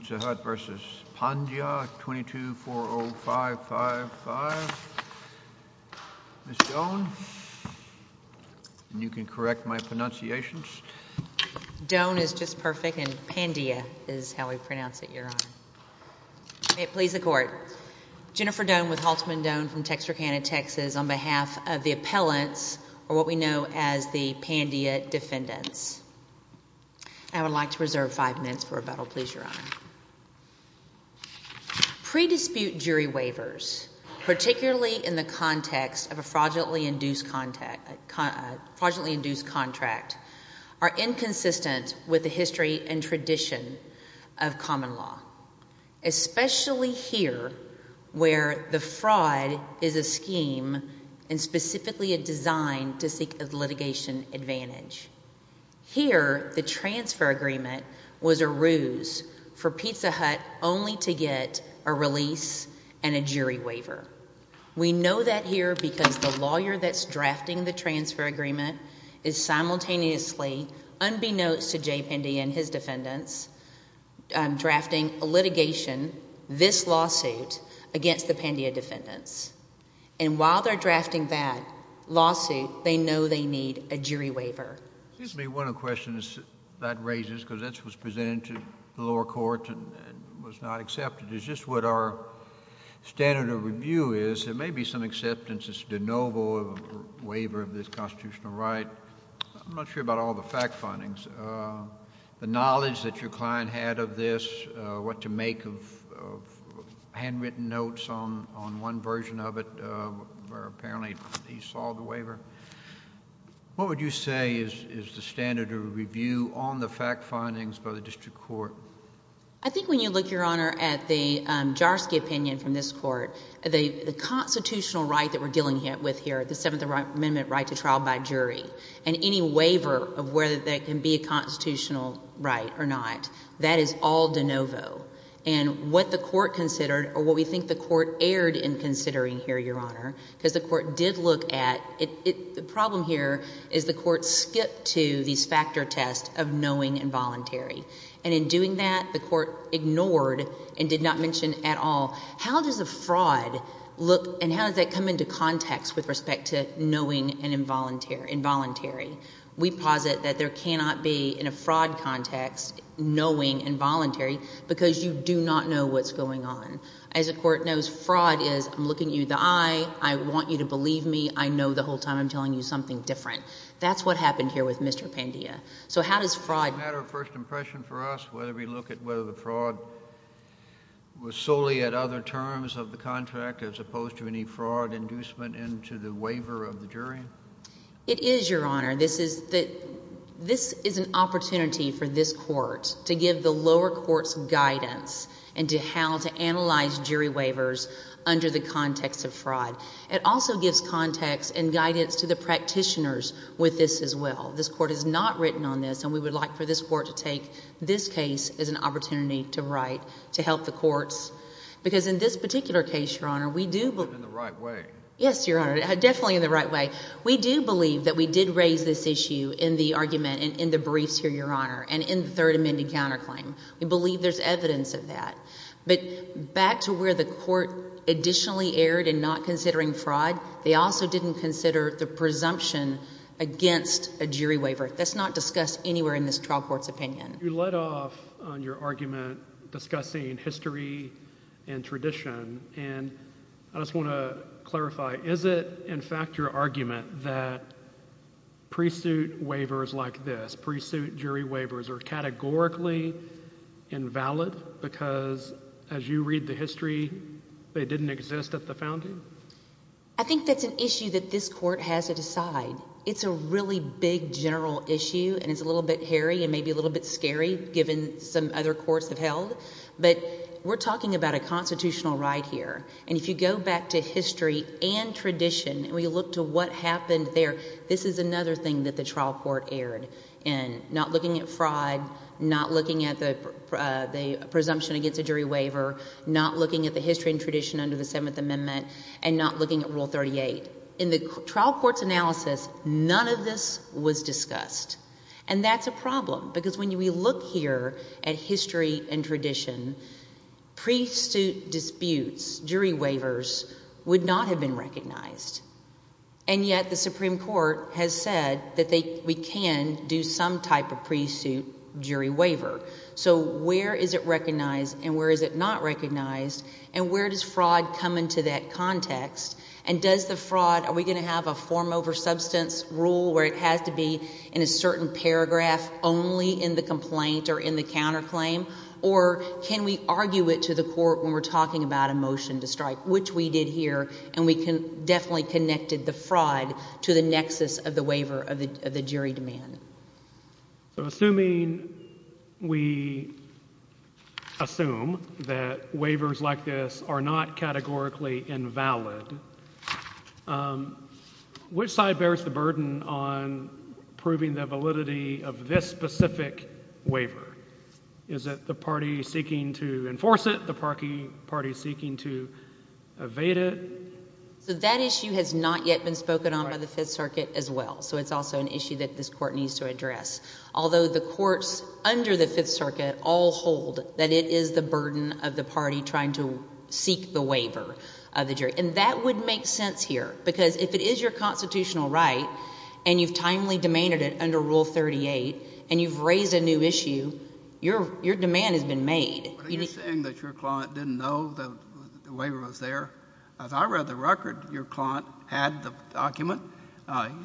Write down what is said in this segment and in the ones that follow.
22-405-5544 tournament Miss Doan, and you can correct my pronunciations. Doan is just perfect and Pandya is how we pronounce it, your honor. May it please the court. Jennifer Doan with Haltman Doan from Texarkana, Texas on behalf of the appellants or what we know as the Pandya defendants. I would like to reserve five minutes for rebuttal, please, your honor. Pre-dispute jury waivers, particularly in the context of a fraudulently induced contract, are inconsistent with the history and tradition of common law, especially here where the fraud is a scheme and specifically a design to seek a ruse for Pizza Hut only to get a release and a jury waiver. We know that here because the lawyer that's drafting the transfer agreement is simultaneously unbeknownst to Jay Pandya and his defendants drafting a litigation, this lawsuit, against the Pandya defendants. And while they're drafting that lawsuit, they know they need a jury waiver. Excuse me, one of the questions that raises, because this was presented to the lower court and was not accepted, is just what our standard of review is. There may be some acceptance, it's de novo, of a waiver of this constitutional right. I'm not sure about all the fact findings. The knowledge that your client had of this, what to make of handwritten notes on one version of it, where apparently he saw the waiver. What would you say is the standard of review on the fact findings by the district court? I think when you look, Your Honor, at the Jarsky opinion from this court, the constitutional right that we're dealing with here, the Seventh Amendment right to trial by jury, and any waiver of whether that can be a constitutional right or not, that is all de novo. And what the court considered, or what we think the court erred in considering here, Your Honor, because the court did look at, the problem here is the court skipped to these factor tests of knowing involuntary. And in doing that, the court ignored and did not mention at all, how does a fraud look and how does that come into context with respect to knowing involuntary? We posit that there cannot be, in a fraud context, knowing involuntary, because you do not know what's going on. As the court knows, fraud is, I'm looking you in the eye, I want you to believe me, I know the whole time I'm telling you something different. That's what happened here with Mr. Pandia. So how does fraud- Is it a matter of first impression for us whether we look at whether the fraud was solely at other terms of the contract as opposed to any fraud inducement into the waiver of the jury? It is, Your Honor. This is an opportunity for this court to give the lower court's guidance into how to analyze jury waivers under the context of fraud. It also gives context and guidance to the practitioners with this as well. This court has not written on this and we would like for this court to take this case as an opportunity to write, to help the courts. Because in this particular case, Your Honor, we do- But in the right way. Yes, Your Honor, definitely in the right way. We do believe that we did raise this issue in the argument and in the briefs here, Your Honor, and in the third amended counterclaim. We believe there's evidence of that. But back to where the jurors were in not considering fraud, they also didn't consider the presumption against a jury waiver. That's not discussed anywhere in this trial court's opinion. You led off on your argument discussing history and tradition. And I just want to clarify, is it, in fact, your argument that pre-suit waivers like this, pre-suit jury waivers, are categorically invalid because, as you read the history, they didn't exist at the founding? I think that's an issue that this court has to decide. It's a really big general issue and it's a little bit hairy and maybe a little bit scary given some other courts have held. But we're talking about a constitutional right here. And if you go back to history and tradition and we look to what happened there, this is another thing that the trial court erred in, not looking at fraud, not looking at the presumption against a jury waiver, not looking at the history and tradition under the Seventh Amendment, and not looking at Rule 38. In the trial court's analysis, none of this was discussed. And that's a problem because when we look here at history and tradition, pre-suit disputes, jury waivers, would not have been recognized. And yet the Supreme Court has said that we can do some type of pre-suit jury waiver. So where is it recognized and where is it not recognized? Does the fraud come into that context? And does the fraud, are we going to have a form over substance rule where it has to be in a certain paragraph only in the complaint or in the counterclaim? Or can we argue it to the court when we're talking about a motion to strike, which we did here and we can definitely connected the fraud to the nexus of the waiver of the jury demand. So assuming we assume that waivers like this are not categorically invalid, which side bears the burden on proving the validity of this specific waiver? Is it the party seeking to enforce it, the party seeking to evade it? So that issue has not yet been spoken on by the Fifth Circuit as well. So it's also an issue that this Court needs to address. Although the courts under the Fifth Circuit all hold that it is the burden of the party trying to seek the waiver of the jury. And that would make sense here because if it is your constitutional right and you've timely demanded it under Rule 38 and you've raised a new issue, your demand has been made. What are you saying that your client didn't know the waiver was there? As I read the record, your client had the document,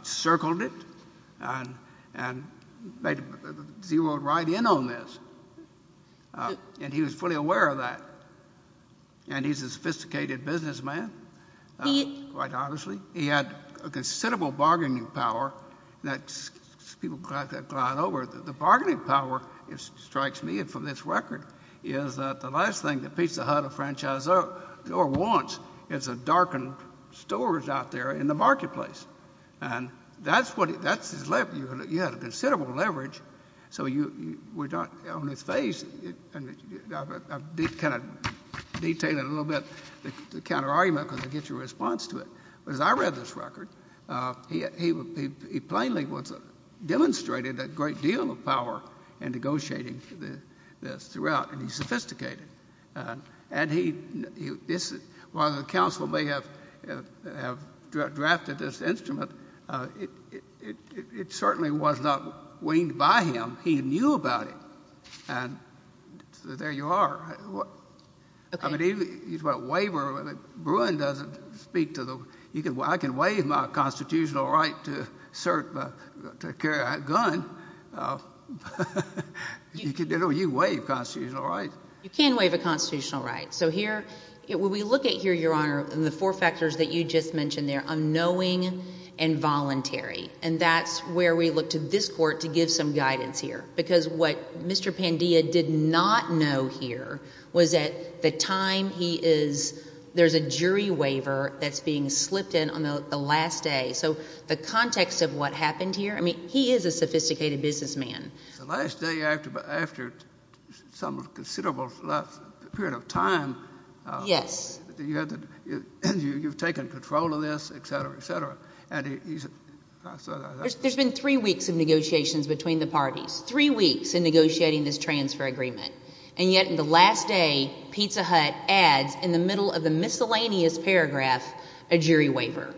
circled it, and zeroed right in on this. And he was fully aware of that. And he's a sophisticated businessman, quite honestly. He had a considerable bargaining power that people got over. The bargaining power, it strikes me from this record, is that the last thing a pizza hut or a franchisor wants is a darkened storage out there in the marketplace. And that's his leverage. You have a considerable leverage. So you're not on his face. And I've kind of detailed it a little bit, the counter-argument, because it gets your response to it. But as I read this record, he plainly demonstrated a great deal of power in negotiating this route. And he's sophisticated. And while the counsel may have drafted this instrument, it certainly was not weaned by him. He knew about it. And so there you are. I mean, he's got a waiver. Bruin doesn't speak to the—I can waive my constitutional right to carry a gun. You can waive constitutional rights. You can waive a constitutional right. So here, when we look at here, Your Honor, the four factors that you just mentioned there, unknowing and voluntary. And that's where we look to this Court to give some guidance here. Because what Mr. Pandia did not know here was that the time he is—there's a jury waiver that's being slipped in on the last day. So the context of what happened here, I mean, he is a sophisticated businessman. The last day after some considerable period of time, you've taken control of this, et cetera, et cetera. There's been three weeks of negotiations between the parties. Three weeks in negotiating this transfer agreement. And yet in the last day, Pizza Hut adds in the middle of the miscellaneous paragraph a jury waiver.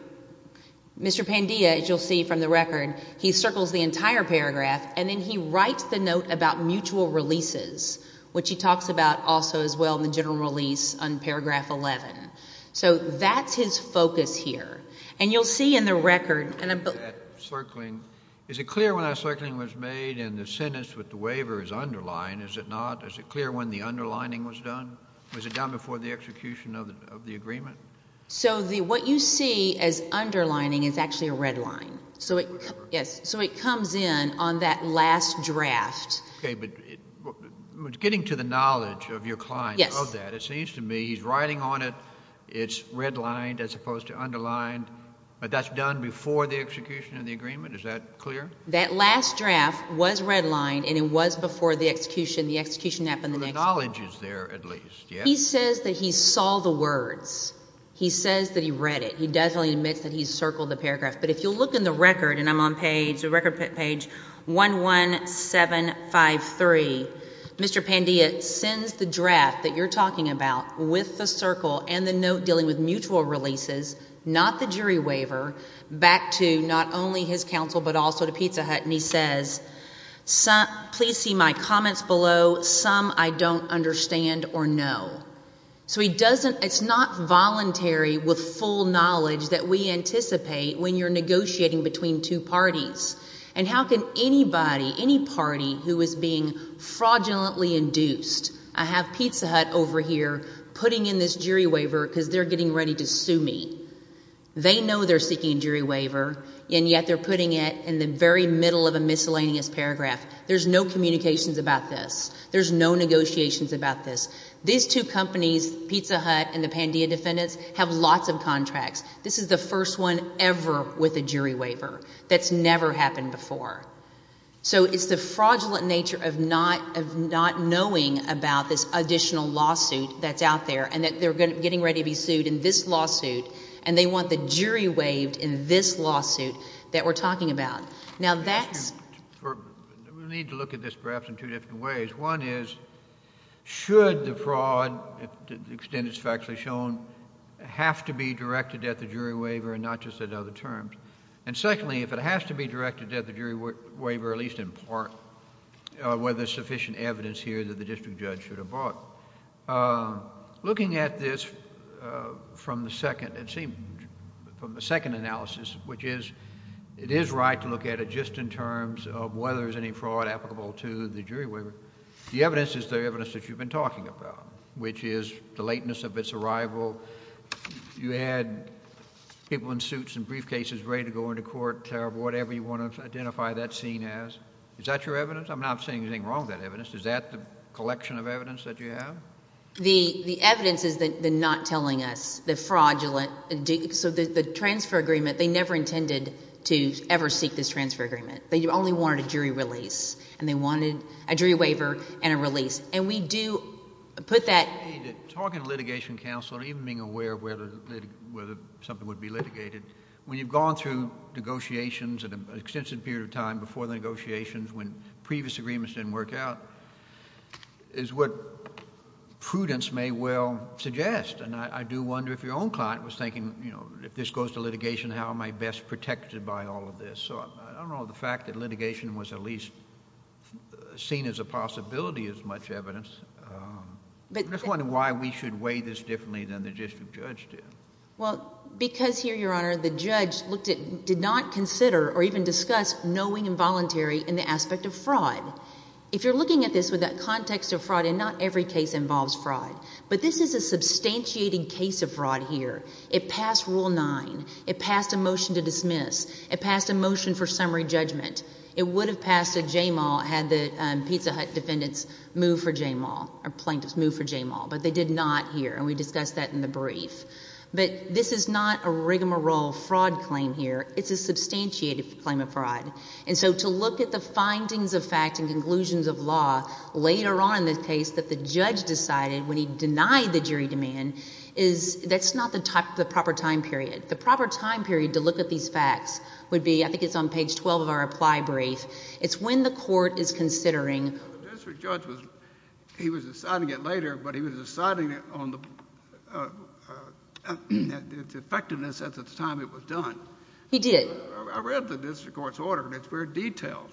Mr. Pandia, as you'll see from the record, he circles the entire paragraph, and then he writes the note about mutual releases, which he talks about also as well in the general release on paragraph 11. So that's his focus here. And you'll see in the record— That circling. Is it clear when that circling was made and the sentence with the waiver is underlined? Is it not? Is it clear when the underlining was done? Was it done before the execution of the agreement? So what you see as underlining is actually a red line. So it comes in on that last draft. Okay, but getting to the knowledge of your client of that, it seems to me he's writing on it, it's redlined as opposed to underlined, but that's done before the execution of the agreement? Is that clear? That last draft was redlined, and it was before the execution, the He says that he saw the words. He says that he read it. He definitely admits that he circled the paragraph. But if you'll look in the record, and I'm on page, record page 11753, Mr. Pandia sends the draft that you're talking about with the circle and the note dealing with mutual releases, not the jury waiver, back to not only his counsel but also to Pizza Hut, and he says, please see my comments below, some I don't understand or know. So he doesn't, it's not voluntary with full knowledge that we anticipate when you're negotiating between two parties. And how can anybody, any party who is being fraudulently induced, I have Pizza Hut over here putting in this jury waiver because they're getting ready to sue me. They know they're seeking a jury waiver, and yet they're putting it in the very middle of a miscellaneous paragraph. There's no communications about this. There's no negotiations about this. These two companies, Pizza Hut and the Pandia defendants, have lots of contracts. This is the first one ever with a jury waiver. That's never happened before. So it's the fraudulent nature of not knowing about this additional lawsuit that's out there and that they're getting ready to be sued in this lawsuit, and they want the jury waived in this lawsuit that we're talking about. Now that's... We need to look at this perhaps in two different ways. One is, should the fraud, to the extent it's factually shown, have to be directed at the jury waiver and not just at other terms? And secondly, if it has to be directed at the jury waiver, at least in part, whether there's sufficient evidence here that the district judge should have brought. Looking at this from the second, it seems, from the second analysis, which is, it is right to look at it just in terms of whether there's any fraud applicable to the jury waiver. The evidence is the evidence that you've been talking about, which is the lateness of its arrival. You had people in suits and briefcases ready to go into court, whatever you want to identify that scene as. Is that your evidence? I'm not saying there's anything wrong with that evidence. Is that the collection of evidence that you have? The evidence is the not telling us, the fraudulent... So the transfer agreement, they never intended to ever seek this agreement, a jury waiver and a release. And we do put that... Talking to litigation counsel or even being aware of whether something would be litigated, when you've gone through negotiations and an extensive period of time before the negotiations when previous agreements didn't work out, is what prudence may well suggest. And I do wonder if your own client was thinking, you know, if this goes to litigation, how am I best protected by all of this? So I don't see it seen as a possibility as much evidence. I'm just wondering why we should weigh this differently than the district judge did. Well, because here, Your Honor, the judge looked at, did not consider or even discuss knowing involuntary in the aspect of fraud. If you're looking at this with that context of fraud, and not every case involves fraud, but this is a substantiating case of fraud here. It passed Rule 9. It passed a motion to dismiss. It passed a motion by Jay Maul. It had the Pizza Hut defendants move for Jay Maul, or plaintiffs move for Jay Maul, but they did not here and we discussed that in the brief. But this is not a rigmarole fraud claim here, it is a substantiated claim of fraud. And so, to look at the findings of fact and conclusions of law later on in this case that the judge decided when he denied the jury demand, is, that's not the proper time period. The proper time period to look at these facts would be, I read the district court's order and it's very detailed.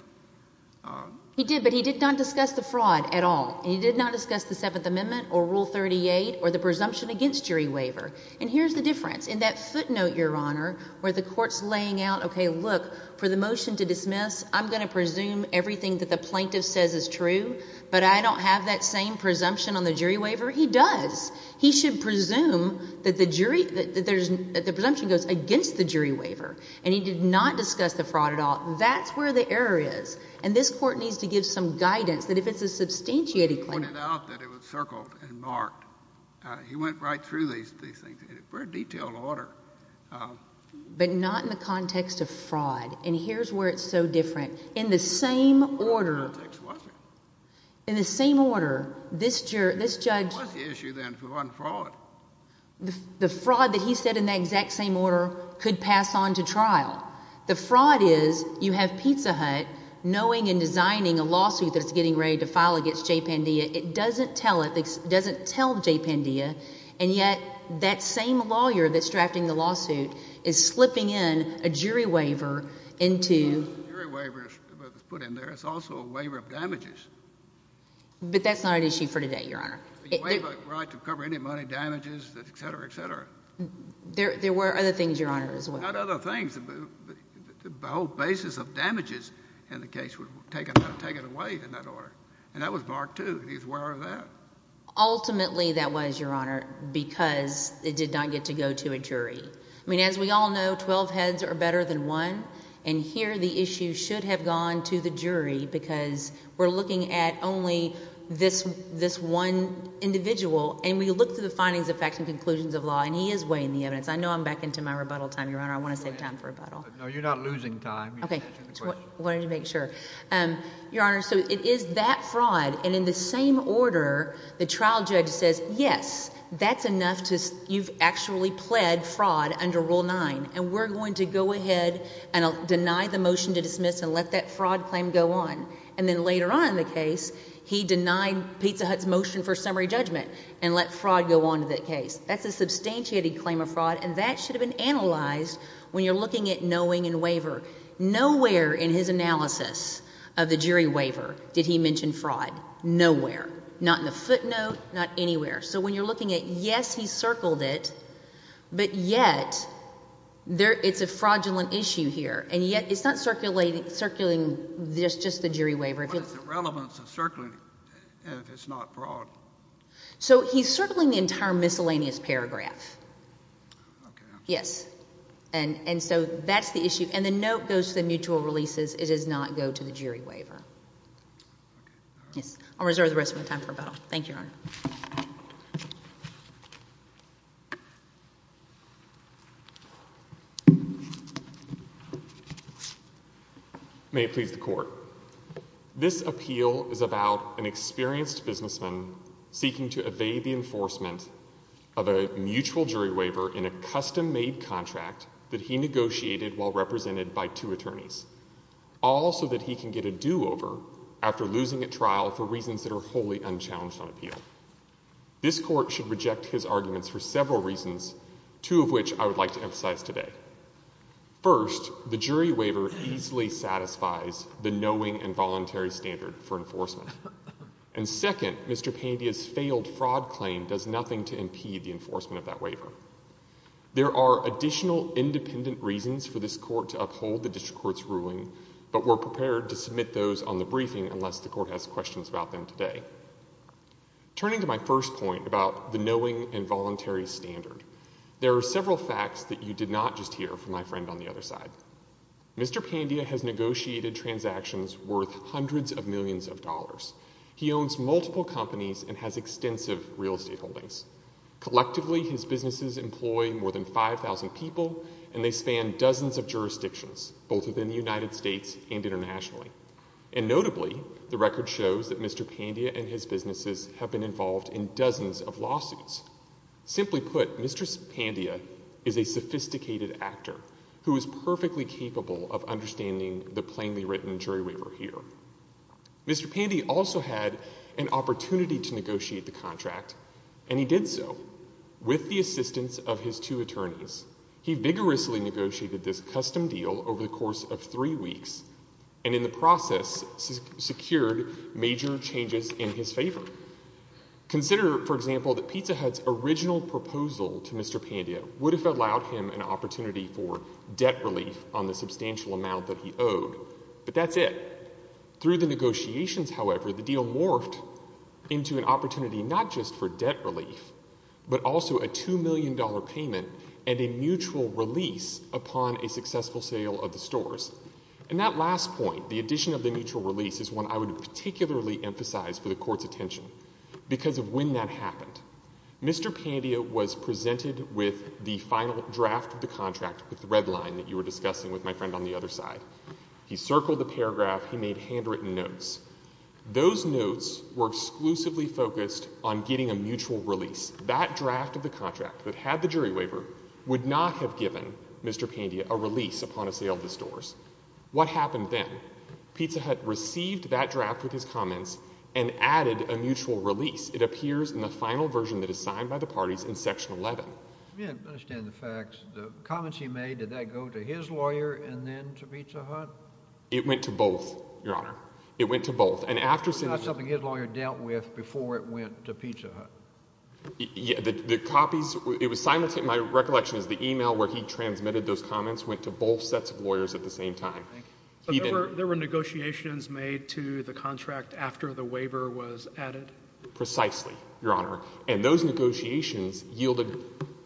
He did, but he did not discuss the fraud at all. He did not discuss the Seventh Amendment or Rule 38 or the presumption against jury waiver. And here's the difference. In that footnote, Your Honor, where the court's laying out, okay, look, for the motion to dismiss, I'm going to presume everything that the plaintiff says is true, but I don't have that same presumption on the jury waiver. He does. He should presume that the jury, that there's, that the presumption goes against the jury waiver. And he did not discuss the fraud at all. That's where the error is. And this court needs to give some guidance that if it's a substantiated claim. He pointed out that it was circled and marked. He went right through these things in a very detailed order. But not in the context of In the same order, this judge, the fraud that he said in the exact same order could pass on to trial. The fraud is, you have Pizza Hut knowing and designing a lawsuit that's getting ready to file against Jay Pandia. It doesn't tell it. It doesn't tell Jay Pandia. And yet, that same lawyer that's drafting the lawsuit is slipping in a jury waiver into the case. But that's not an issue for today, Your Honor. The waiver, right, to cover any money, damages, etc., etc.? There were other things, Your Honor, as well. Not other things. The whole basis of damages in the case would take it away in that order. And that was marked too. He's aware of that. Ultimately, that was, Your Honor, because it did not get to go to a jury. I mean as we all know, 12 heads are better than one, and here the issue should have gone to the jury. Because we're looking at only this one individual, and we look through the findings of facts and conclusions of law, and he is weighing the evidence. I know I'm back into my rebuttal time, Your Honor. I want to save time for rebuttal. No, you're not losing time. You're answering the question. Okay. I wanted to make sure. Your Honor, so it is that fraud. And in the same order, the trial judge says, yes, that's enough. You've actually pled fraud under Rule 9. And we're going to go ahead and deny the motion to dismiss and let that fraud claim go on. And then later on in the case, he denied Pizza Hut's motion for summary judgment and let fraud go on to that case. That's a substantiated claim of fraud, and that should have been analyzed when you're looking at knowing and waiver. Nowhere in his analysis of the jury waiver did he mention fraud. Nowhere. Not in the footnote, not anywhere. So when you're looking at, yes, he circled it, but yet it's a fraudulent issue here. And yet it's not circulating just the jury waiver. What is the relevance of circling if it's not fraud? So he's circling the entire miscellaneous paragraph. Okay. Yes. And so that's the issue. And the note goes to the mutual releases. It does not go to the jury waiver. Okay. All right. Yes. I'll reserve the rest of my time for rebuttal. Thank you, Your Honor. May it please the Court. This appeal is about an experienced businessman seeking to evade the enforcement of a mutual jury waiver in a custom-made contract that he negotiated while represented by two attorneys, all so that he can get a do-over after losing at trial for reasons that are wholly unchallenged on appeal. This Court should reject his arguments for several reasons, two of which I would like to emphasize today. First, the jury waiver easily satisfies the knowing and voluntary standard for enforcement. And second, Mr. Pandia's failed fraud claim does nothing to impede the enforcement of that waiver. There are additional independent reasons for this Court to uphold the district court's ruling, but we're prepared to submit those on the briefing unless the Court has questions about them today. Turning to my first point about the knowing and voluntary standard, there are several facts that you did not just hear from my friend on the other side. Mr. Pandia has negotiated transactions worth hundreds of millions of dollars. He owns multiple companies and has extensive real estate holdings. Collectively, his businesses employ more than 5,000 people, and they span dozens of jurisdictions, both within the United States and internationally. And notably, the record shows that Mr. Pandia and his businesses have been involved in dozens of lawsuits. Simply put, Mr. Pandia is a sophisticated actor who is perfectly capable of understanding the plainly written jury waiver here. Mr. Pandia also had an opportunity to negotiate the contract, and he did so with the assistance of his two attorneys. He vigorously negotiated this custom deal over the course of three weeks, and in the process secured major changes in his favor. Consider, for example, that Pizza Hut's original proposal to Mr. Pandia would have allowed him an opportunity for debt relief on the substantial amount that he owed, but that's it. Through the negotiations, however, the deal morphed into an opportunity not just for debt relief, but also a $2 million payment and a mutual release upon a successful sale of the stores. And that last point, the addition of the mutual release, is one I would particularly emphasize for the Court's attention, because of when that happened. Mr. Pandia was presented with the final draft of the contract with the red line that you were discussing with my friend on the other side. He circled the paragraph. He made handwritten notes. Those notes were exclusively focused on getting a mutual release. That draft of the contract that had the jury waiver would not have given Mr. Pandia a release upon a sale of the stores. What happened then? Pizza Hut received that draft with his comments and added a mutual release. It appears in the final version that is signed by the parties in Section 11. I don't understand the facts. The comments he made, did that go to his lawyer and then to Pizza Hut? It went to both, Your Honor. It went to both. It's not something his lawyer dealt with before it went to Pizza Hut. The copies, it was simultaneous. My recollection is the e-mail where he transmitted those comments went to both sets of lawyers at the same time. There were negotiations made to the contract after the waiver was added? Precisely, Your Honor. And those negotiations yielded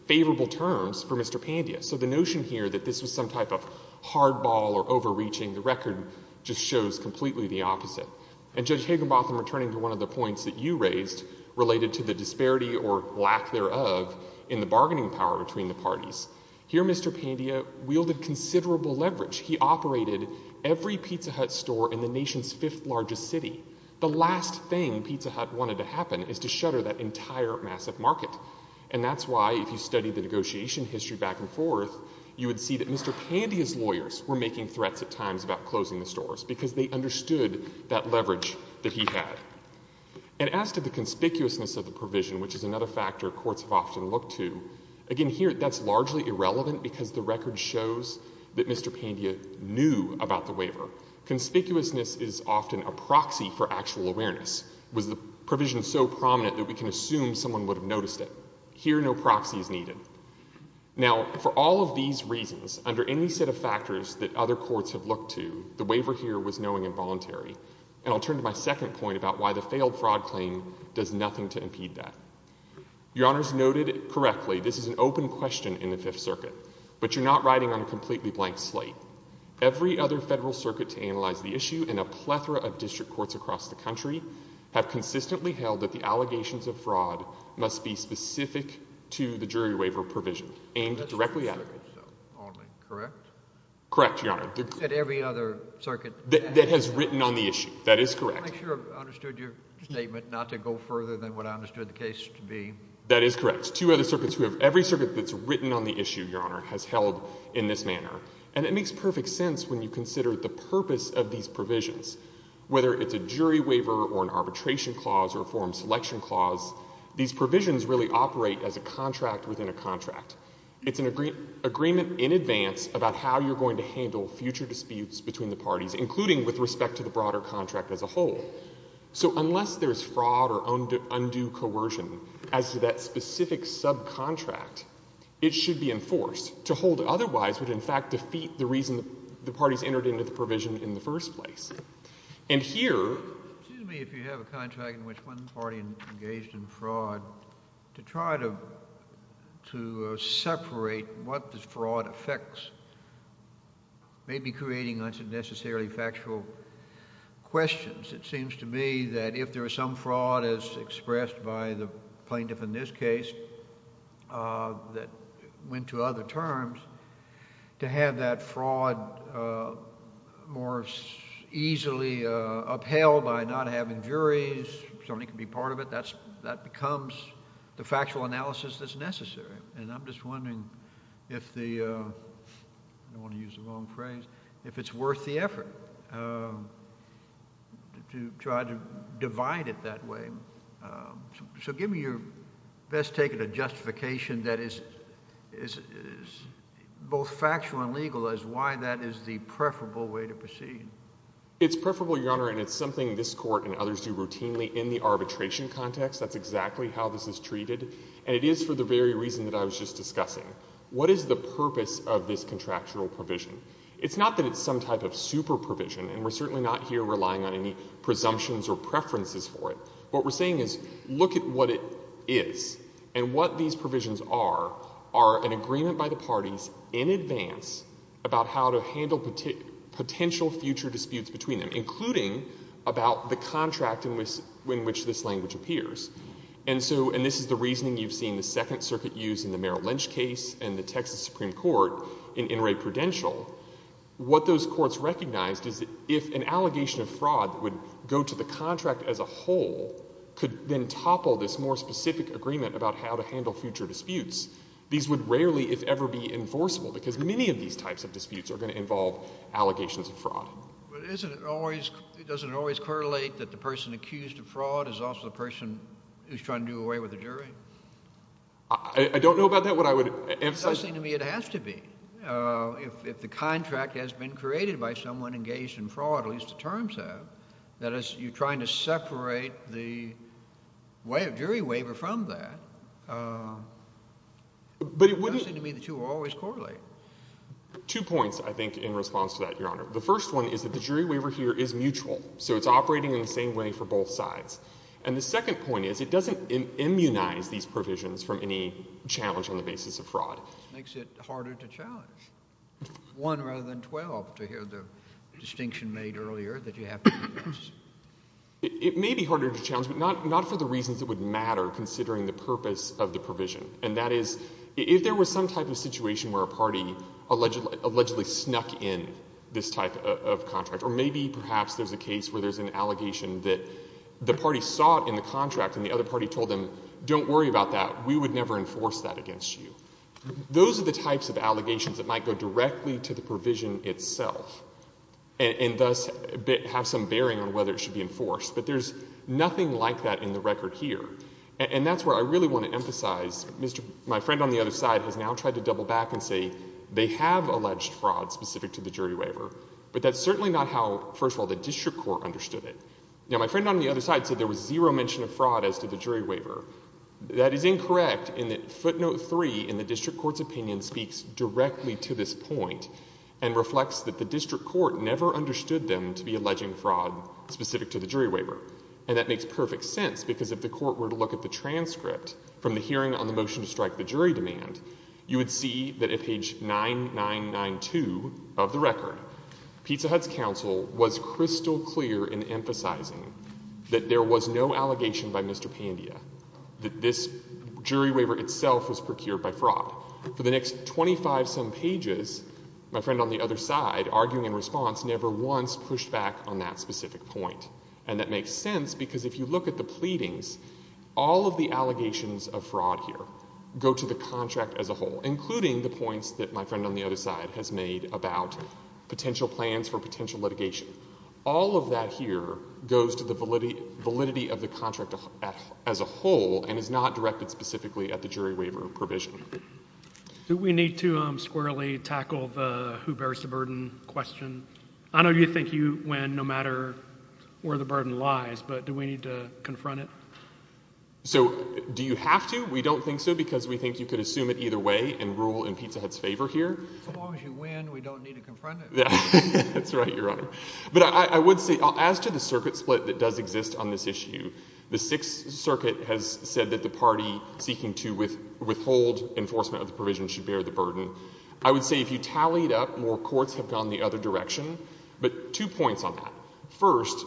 favorable terms for Mr. Pandia. So the notion here that this was some type of hardball or overreaching, the record just shows completely the opposite. And Judge Higginbotham, returning to one of the points that you raised related to the disparity or lack thereof in the bargaining power between the parties, here Mr. Pandia wielded considerable leverage. He operated every Pizza Hut store in the nation's fifth largest city. The last thing Pizza Hut wanted to happen is to shutter that entire massive market. And that's why if you study the negotiation history back and forth, you would see that Mr. Pandia's lawyers were making threats at times about closing the stores because they understood that leverage that he had. And as to the conspicuousness of the provision, which is another factor courts have often looked to, again here that's largely irrelevant because the record shows that Mr. Pandia knew about the waiver. Conspicuousness is often a proxy for actual awareness. Was the provision so prominent that we can assume someone would have noticed it? Here, no proxy is needed. Now, for all of these reasons, under any set of factors that other courts have looked to, the waiver here was knowing and voluntary. And I'll turn to my second point about why the failed fraud claim does nothing to impede that. Your Honor's noted correctly, this is an open question in the Fifth Circuit. But you're not riding on a completely blank slate. Every other federal circuit to analyze the issue, and a plethora of district courts across the country, have consistently held that the allegations of fraud must be specific to the jury waiver provision, aimed directly at it. Correct? Correct, Your Honor. You said every other circuit? That has written on the issue. That is correct. I'm not sure I understood your statement not to go further than what I understood the case to be. That is correct. Two other circuits. We have every circuit that's written on the issue, Your Honor, has held in this manner. And it makes perfect sense when you consider the purpose of these provisions. Whether it's a jury waiver or an arbitration clause or a forum selection clause, these provisions really operate as a contract within a contract. It's an agreement in advance about how you're going to handle future disputes between the parties, including with respect to the broader contract as a whole. So unless there's fraud or undue coercion as to that specific subcontract, it should be enforced. To hold it otherwise would, in fact, defeat the reason the parties entered into the provision in the first place. Excuse me. If you have a contract in which one party engaged in fraud, to try to separate what the fraud affects may be creating unnecessarily factual questions. It seems to me that if there is some fraud as expressed by the plaintiff in this case that went to other terms, to have that fraud more easily upheld by not having juries, somebody can be part of it, that becomes the factual analysis that's necessary. And I'm just wondering if the—I don't want to use the wrong phrase—if it's worth the effort to try to divide it that way. So give me your best take at a justification that is both factual and legal as why that is the preferable way to proceed. It's preferable, Your Honor, and it's something this Court and others do routinely in the arbitration context. That's exactly how this is treated, and it is for the very reason that I was just discussing. What is the purpose of this contractual provision? It's not that it's some type of super provision, and we're certainly not here relying on any presumptions or preferences for it. What we're saying is look at what it is and what these provisions are, are an agreement by the parties in advance about how to handle potential future disputes between them, including about the contract in which this language appears. And so, and this is the reasoning you've seen the Second Circuit use in the Merrill Lynch case and the Texas Supreme Court in In re Prudential. What those courts recognized is that if an allegation of fraud would go to the contract as a whole, could then topple this more specific agreement about how to handle future disputes, these would rarely, if ever, be enforceable, because many of these types of disputes are going to involve allegations of fraud. But doesn't it always correlate that the person accused of fraud is also the person who's trying to do away with the jury? I don't know about that. What I would emphasize— It doesn't seem to me it has to be. If the contract has been created by someone engaged in fraud, at least the terms have, that as you're trying to separate the jury waiver from that, it doesn't seem to me the two always correlate. The first one is that the jury waiver here is mutual, so it's operating in the same way for both sides. And the second point is it doesn't immunize these provisions from any challenge on the basis of fraud. Makes it harder to challenge. One rather than 12, to hear the distinction made earlier that you have to immunize. It may be harder to challenge, but not for the reasons that would matter considering the purpose of the provision. And that is, if there was some type of situation where a party allegedly snuck in this type of contract, or maybe perhaps there's a case where there's an allegation that the party saw it in the contract and the other party told them, don't worry about that, we would never enforce that against you. Those are the types of allegations that might go directly to the provision itself and thus have some bearing on whether it should be enforced. But there's nothing like that in the record here. And that's where I really want to emphasize, my friend on the other side has now tried to double back and say they have alleged fraud specific to the jury waiver, but that's certainly not how, first of all, the district court understood it. Now my friend on the other side said there was zero mention of fraud as to the jury waiver. That is incorrect in that footnote 3 in the district court's opinion speaks directly to this point and reflects that the district court never understood them to be alleging fraud specific to the jury waiver. And that makes perfect sense because if the court were to look at the transcript from the hearing on the motion to strike the jury demand, you would see that at page 9992 of the record, Pizza Hut's counsel was crystal clear in emphasizing that there was no allegation by Mr. Pandia, that this jury waiver itself was procured by fraud. For the next 25-some pages, my friend on the other side, arguing in response, never once pushed back on that specific point. And that makes sense because if you look at the pleadings, all of the allegations of fraud here go to the contract as a whole, including the points that my friend on the other side has made about potential plans for potential litigation. All of that here goes to the validity of the contract as a whole and is not directed specifically at the jury waiver provision. Do we need to squarely tackle the who bears the burden question? I know you think you win no matter where the burden lies, but do we need to confront it? So do you have to? We don't think so because we think you could assume it either way and rule in Pizza Hut's favor here. As long as you win, we don't need to confront it. That's right, Your Honor. But I would say, as to the circuit split that does exist on this issue, the Sixth Circuit has said that the party seeking to withhold enforcement of the provision should bear the burden. I would say if you tally it up, more courts have gone the other direction. But two points on that. First,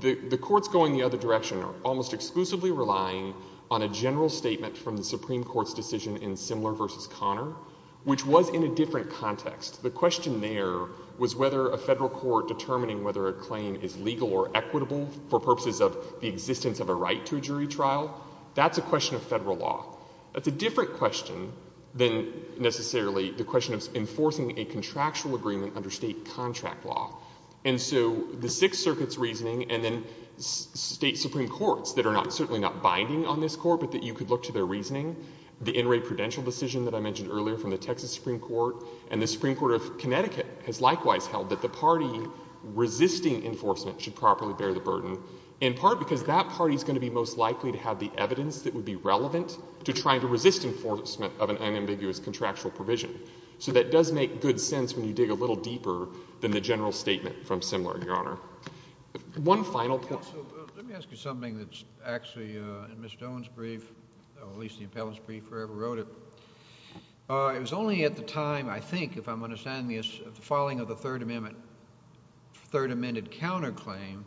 the courts going the other direction are almost exclusively relying on a general statement from the Supreme Court's decision in Simler v. Connor, which was in a different context. The question there was whether a federal court determining whether a claim is legal or equitable for purposes of the existence of a right to a jury trial, that's a question of federal law. That's a different question than necessarily the question of enforcing a contractual agreement under State contract law. And so the Sixth Circuit's reasoning and then State supreme courts that are certainly not binding on this Court, but that you could look to their reasoning, the In re Prudential decision that I mentioned earlier from the Texas Supreme Court and the Supreme Court of Connecticut has likewise held that the party resisting enforcement should properly bear the burden, in part because that party is going to be most likely to have the evidence that would be relevant to trying to resist enforcement of an unambiguous contractual provision. So that does make good sense when you dig a little deeper than the general statement from Simler, Your Honor. One final point. JUSTICE SCALIA. Let me ask you something that's actually in Ms. Stone's brief, or at least the appellant's brief, whoever wrote it. It was only at the time, I think, if I'm understanding this, of the filing of the Third Amendment counterclaim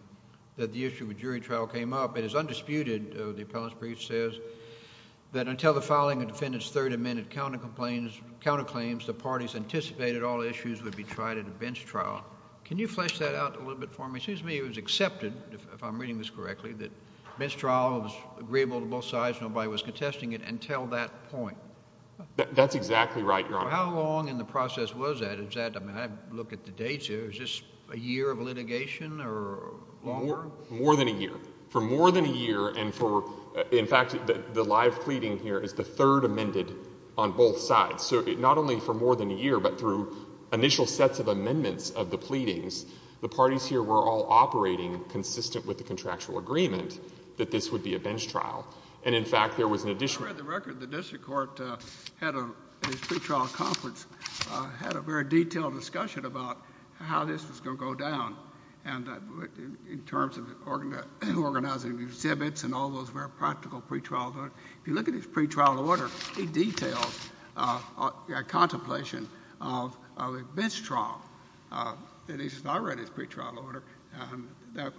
that the issue of a jury trial came up. It is undisputed, the appellant's brief says, that until the filing of the defendant's Third Amendment counterclaims, the parties anticipated all issues would be tried at a bench trial. Can you flesh that out a little bit for me? It seems to me it was accepted, if I'm reading this correctly, that a bench trial was agreeable to both sides and nobody was contesting it until that point. MR. CLEMENT. That's exactly right, Your Honor. JUSTICE SCALIA. How long in the process was that? I mean, I look at the dates here. Was this a year of litigation or longer? MR. CLEMENT. More than a year. For more than a year, and for — in fact, the live pleading here is the third amended on both sides. So not only for more than a year, but through initial sets of amendments of the pleadings, the parties here were all operating consistent with the contractual agreement that this would be a bench trial. And, in fact, there was an additional — JUSTICE SCALIA. I read the record. The district court had a — in its pretrial conference, had a very detailed discussion about how this was going to go down, and in terms of organizing exhibits and all those very practical pretrial — if you look at its pretrial order, it details a contemplation of a bench trial. And he says, I read his pretrial order, and that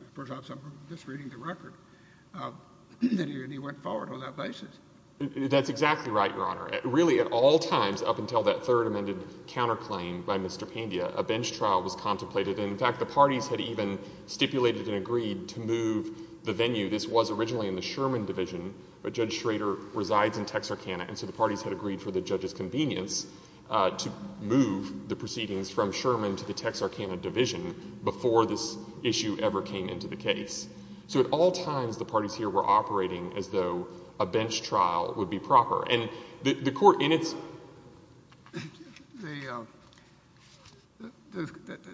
— perhaps I'm just reading the record. And he went forward on that basis. CLEMENT. That's exactly right, Your Honor. Really, at all times up until that third amended counterclaim by Mr. Pandya, a bench trial was contemplated. And, in fact, the parties had even stipulated and agreed to move the venue. This was originally in the Sherman division, but Judge Schrader resides in Texarkana, and so the parties had agreed for the judge's convenience to move the proceedings from Sherman to the Texarkana division before this issue ever came into the case. So at all times, the parties here were operating as though a bench trial would be proper. And the court, in its — JUSTICE KENNEDY.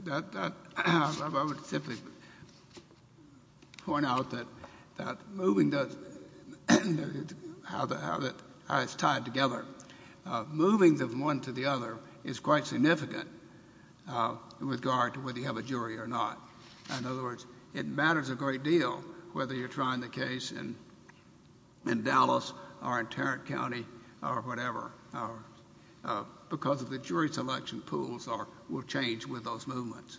The — I would simply point out that moving does — how it's tied together. Moving from one to the other is quite significant in regard to whether you have a jury or not. In other words, it matters a great deal whether you're trying the case in Dallas or in Tarrant County or whatever, because of the jury selection pools will change with those movements.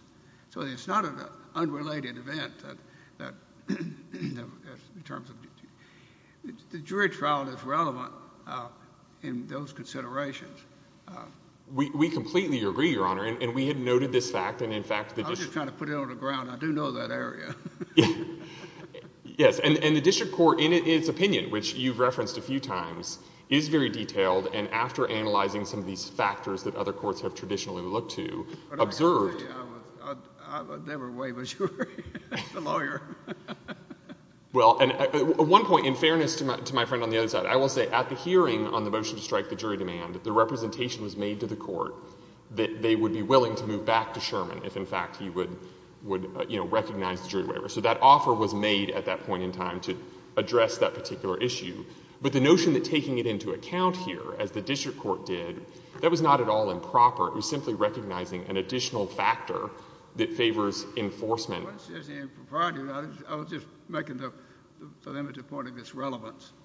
So it's not an unrelated event in terms of — the jury trial is relevant in those considerations. CLEMENT. We completely agree, Your Honor, and we had noted this fact, and, in fact, the — JUSTICE KENNEDY. I do know that area. CLEMENT. Yes. And the district court, in its opinion, which you've referenced a few times, is very detailed, and after analyzing some of these factors that other courts have traditionally looked to, observed — JUSTICE KENNEDY. I would never waive a jury as a lawyer. CLEMENT. Well, and one point, in fairness to my friend on the other side, I will say at the hearing on the motion to strike the jury demand, the representation was made to the court that they would be willing to move back to Sherman if, in fact, he would, you know, recognize the jury waiver. So that offer was made at that point in time to address that particular issue. But the notion that taking it into account here, as the district court did, that was not at all improper. It was simply recognizing an additional factor that favors enforcement. JUSTICE KENNEDY. Well, it's just impropriety. I was just making the limited point of its relevance. CLEMENT.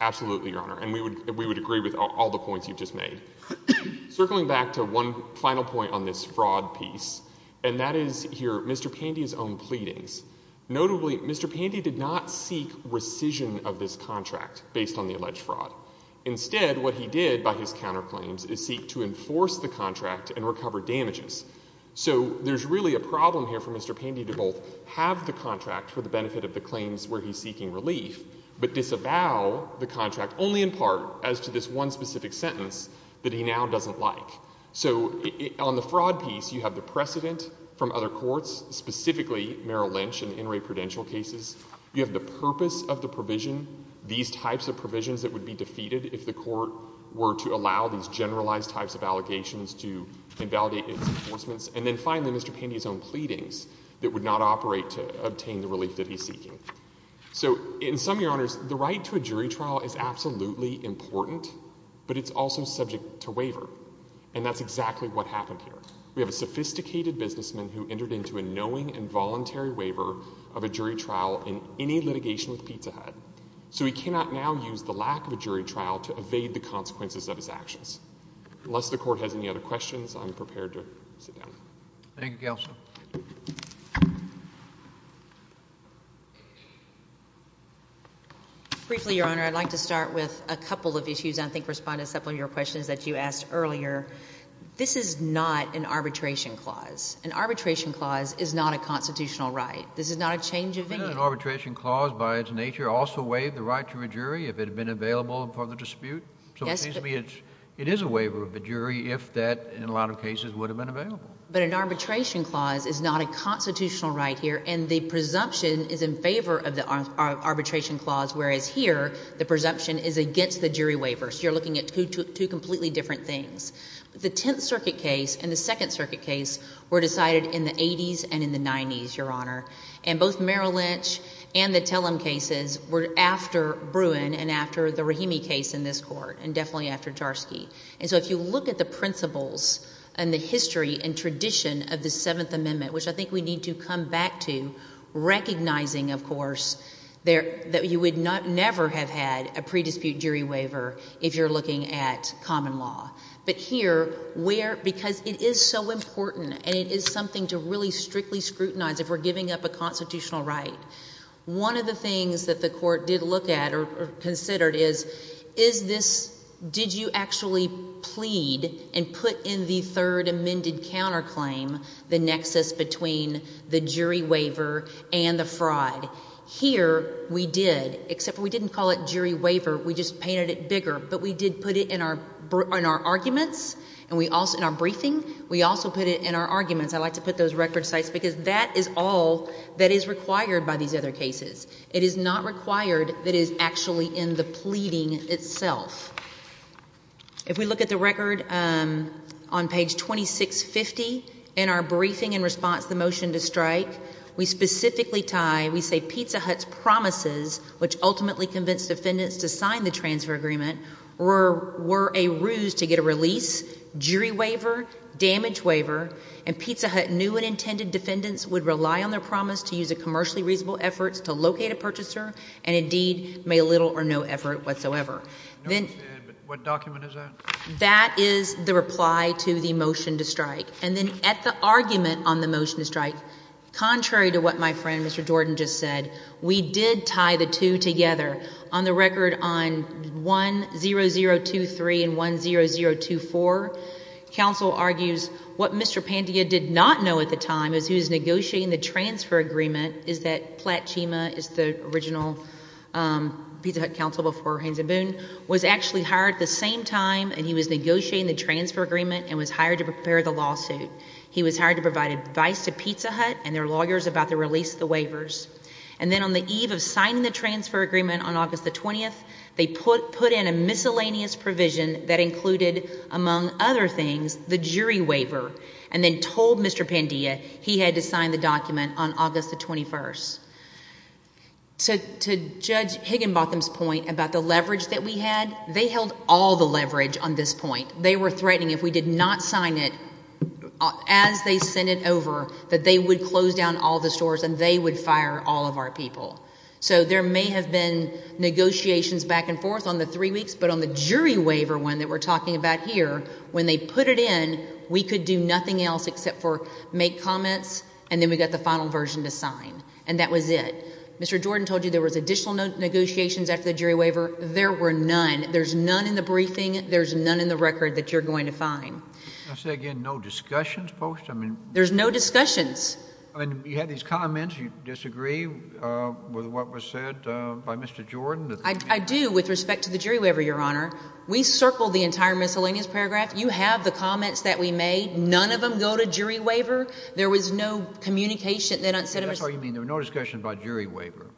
Absolutely, Your Honor, and we would agree with all the points you've just made. Circling back to one final point on this fraud piece, and that is here Mr. Pandy's own pleadings. Notably, Mr. Pandy did not seek rescission of this contract based on the alleged fraud. Instead, what he did by his counterclaims is seek to enforce the contract and recover damages. So there's really a problem here for Mr. Pandy to both have the contract for the benefit of the claims where he's seeking relief, but disavow the contract only in part as to this one specific sentence that he now doesn't like. So on the fraud piece, you have the precedent from other courts, specifically Merrill Lynch and N. Ray Prudential cases. You have the purpose of the provision, these types of provisions that would be defeated if the court were to allow these generalized types of allegations to invalidate its enforcements. And then finally, Mr. Pandy's own pleadings that would not operate to obtain the relief that he's seeking. So in sum, Your Honors, the right to a jury trial is absolutely important, but it's also subject to waiver. And that's exactly what happened here. We have a sophisticated businessman who entered into a knowing and voluntary waiver of a jury trial in any litigation with Pizza Hut. So he cannot now use the lack of a jury trial to evade the consequences of his actions. Unless the Court has any other questions, I'm prepared to sit down. Thank you, Counsel. Briefly, Your Honor, I'd like to start with a couple of issues. I think responding to a couple of your questions that you asked earlier. This is not an arbitration clause. An arbitration clause is not a constitutional right. This is not a change of view. Isn't an arbitration clause by its nature also waive the right to a jury if it had been available for the dispute? So it seems to me it is a waiver of the jury if that, in a lot of cases, would have been available. But an arbitration clause is not a constitutional right here, and the presumption is in favor of the arbitration clause, whereas here the presumption is against the jury waiver. So you're looking at two completely different things. The Tenth Circuit case and the Second Circuit case were decided in the 80s and in the 90s, Your Honor. And both Merrill Lynch and the Tellum cases were after Bruin and after the Rahimi case in this Court, and definitely after Jarski. And so if you look at the principles and the history and tradition of the Seventh Amendment, which I think we need to come back to, recognizing, of course, that you would never have had a pre-dispute jury waiver if you're looking at common law. But here, because it is so important and it is something to really strictly scrutinize if we're giving up a constitutional right, one of the things that the did you actually plead and put in the third amended counterclaim the nexus between the jury waiver and the fraud? Here we did, except we didn't call it jury waiver. We just painted it bigger. But we did put it in our arguments and in our briefing. We also put it in our arguments. I like to put those record sites because that is all that is required by these other cases. It is not required that it is actually in the pleading itself. If we look at the record on page 2650 in our briefing in response to the motion to strike, we specifically tie, we say Pizza Hut's promises, which ultimately convinced defendants to sign the transfer agreement, were a ruse to get a release, jury waiver, damage waiver, and Pizza Hut knew what intended defendants would rely on their promise to use a commercially reasonable effort to locate a purchaser and indeed made little or no effort whatsoever. What document is that? That is the reply to the motion to strike. And then at the argument on the motion to strike, contrary to what my friend, Mr. Jordan, just said, we did tie the two together. On the record on 10023 and 10024, counsel argues what Mr. Pandia did not know at the time as he was negotiating the transfer agreement is that Platt Chima is the original Pizza Hut counsel before Haynes and Boone, was actually hired at the same time and he was negotiating the transfer agreement and was hired to prepare the lawsuit. He was hired to provide advice to Pizza Hut and their lawyers about the release of the waivers. And then on the eve of signing the transfer agreement on August the 20th, they put in a miscellaneous provision that included, among other things, the jury waiver and then told Mr. Pandia he had to sign the document on August the 21st. To Judge Higginbotham's point about the leverage that we had, they held all the leverage on this point. They were threatening if we did not sign it as they sent it over, that they would close down all the stores and they would fire all of our people. So there may have been negotiations back and forth on the three weeks, but on the jury waiver one that we're talking about here, when they put it in, we could do nothing else except for make comments and then we got the final version to sign. And that was it. Mr. Jordan told you there was additional negotiations after the jury waiver. There were none. There's none in the briefing. There's none in the record that you're going to find. Can I say again, no discussions, Post? There's no discussions. You had these comments. You disagree with what was said by Mr. Jordan? I do with respect to the jury waiver, Your Honor. We circled the entire miscellaneous paragraph. You have the comments that we made. None of them go to jury waiver. There was no communication. They don't send them. That's what you mean. There were no discussions about jury waiver.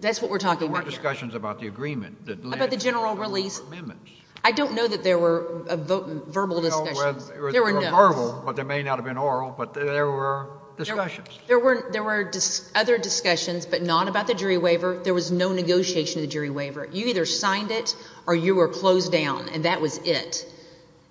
That's what we're talking about here. There weren't discussions about the agreement. About the general release. I don't know that there were verbal discussions. There were verbal, but there may not have been oral, but there were discussions. There were other discussions, but not about the jury waiver. There was no negotiation of the jury waiver. You either signed it or you were closed down, and that was it.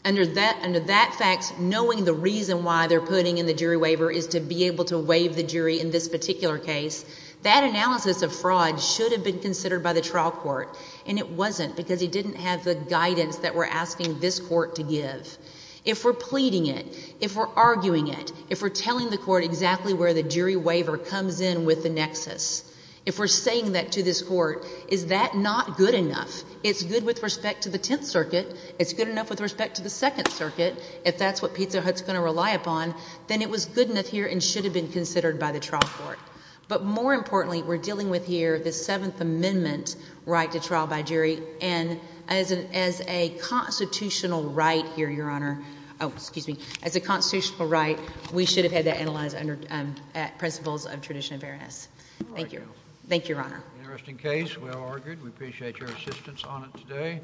Under that fact, knowing the reason why they're putting in the jury waiver is to be able to waive the jury in this particular case, that analysis of fraud should have been considered by the trial court, and it wasn't because it didn't have the guidance that we're asking this court to give. If we're pleading it, if we're arguing it, if we're telling the court exactly where the jury waiver comes in with the nexus, if we're saying that to this court, is that not good enough? It's good with respect to the Tenth Circuit. It's good enough with respect to the Second Circuit. If that's what Pizza Hut's going to rely upon, then it was good enough here and should have been considered by the trial court. But more importantly, we're dealing with here the Seventh Amendment right to trial by jury, and as a constitutional right here, Your Honor, oh, excuse me, as a constitutional right, we should have had that analyzed under principles of tradition and fairness. Thank you. Thank you, Your Honor. Interesting case. Well argued. We appreciate your assistance on it today.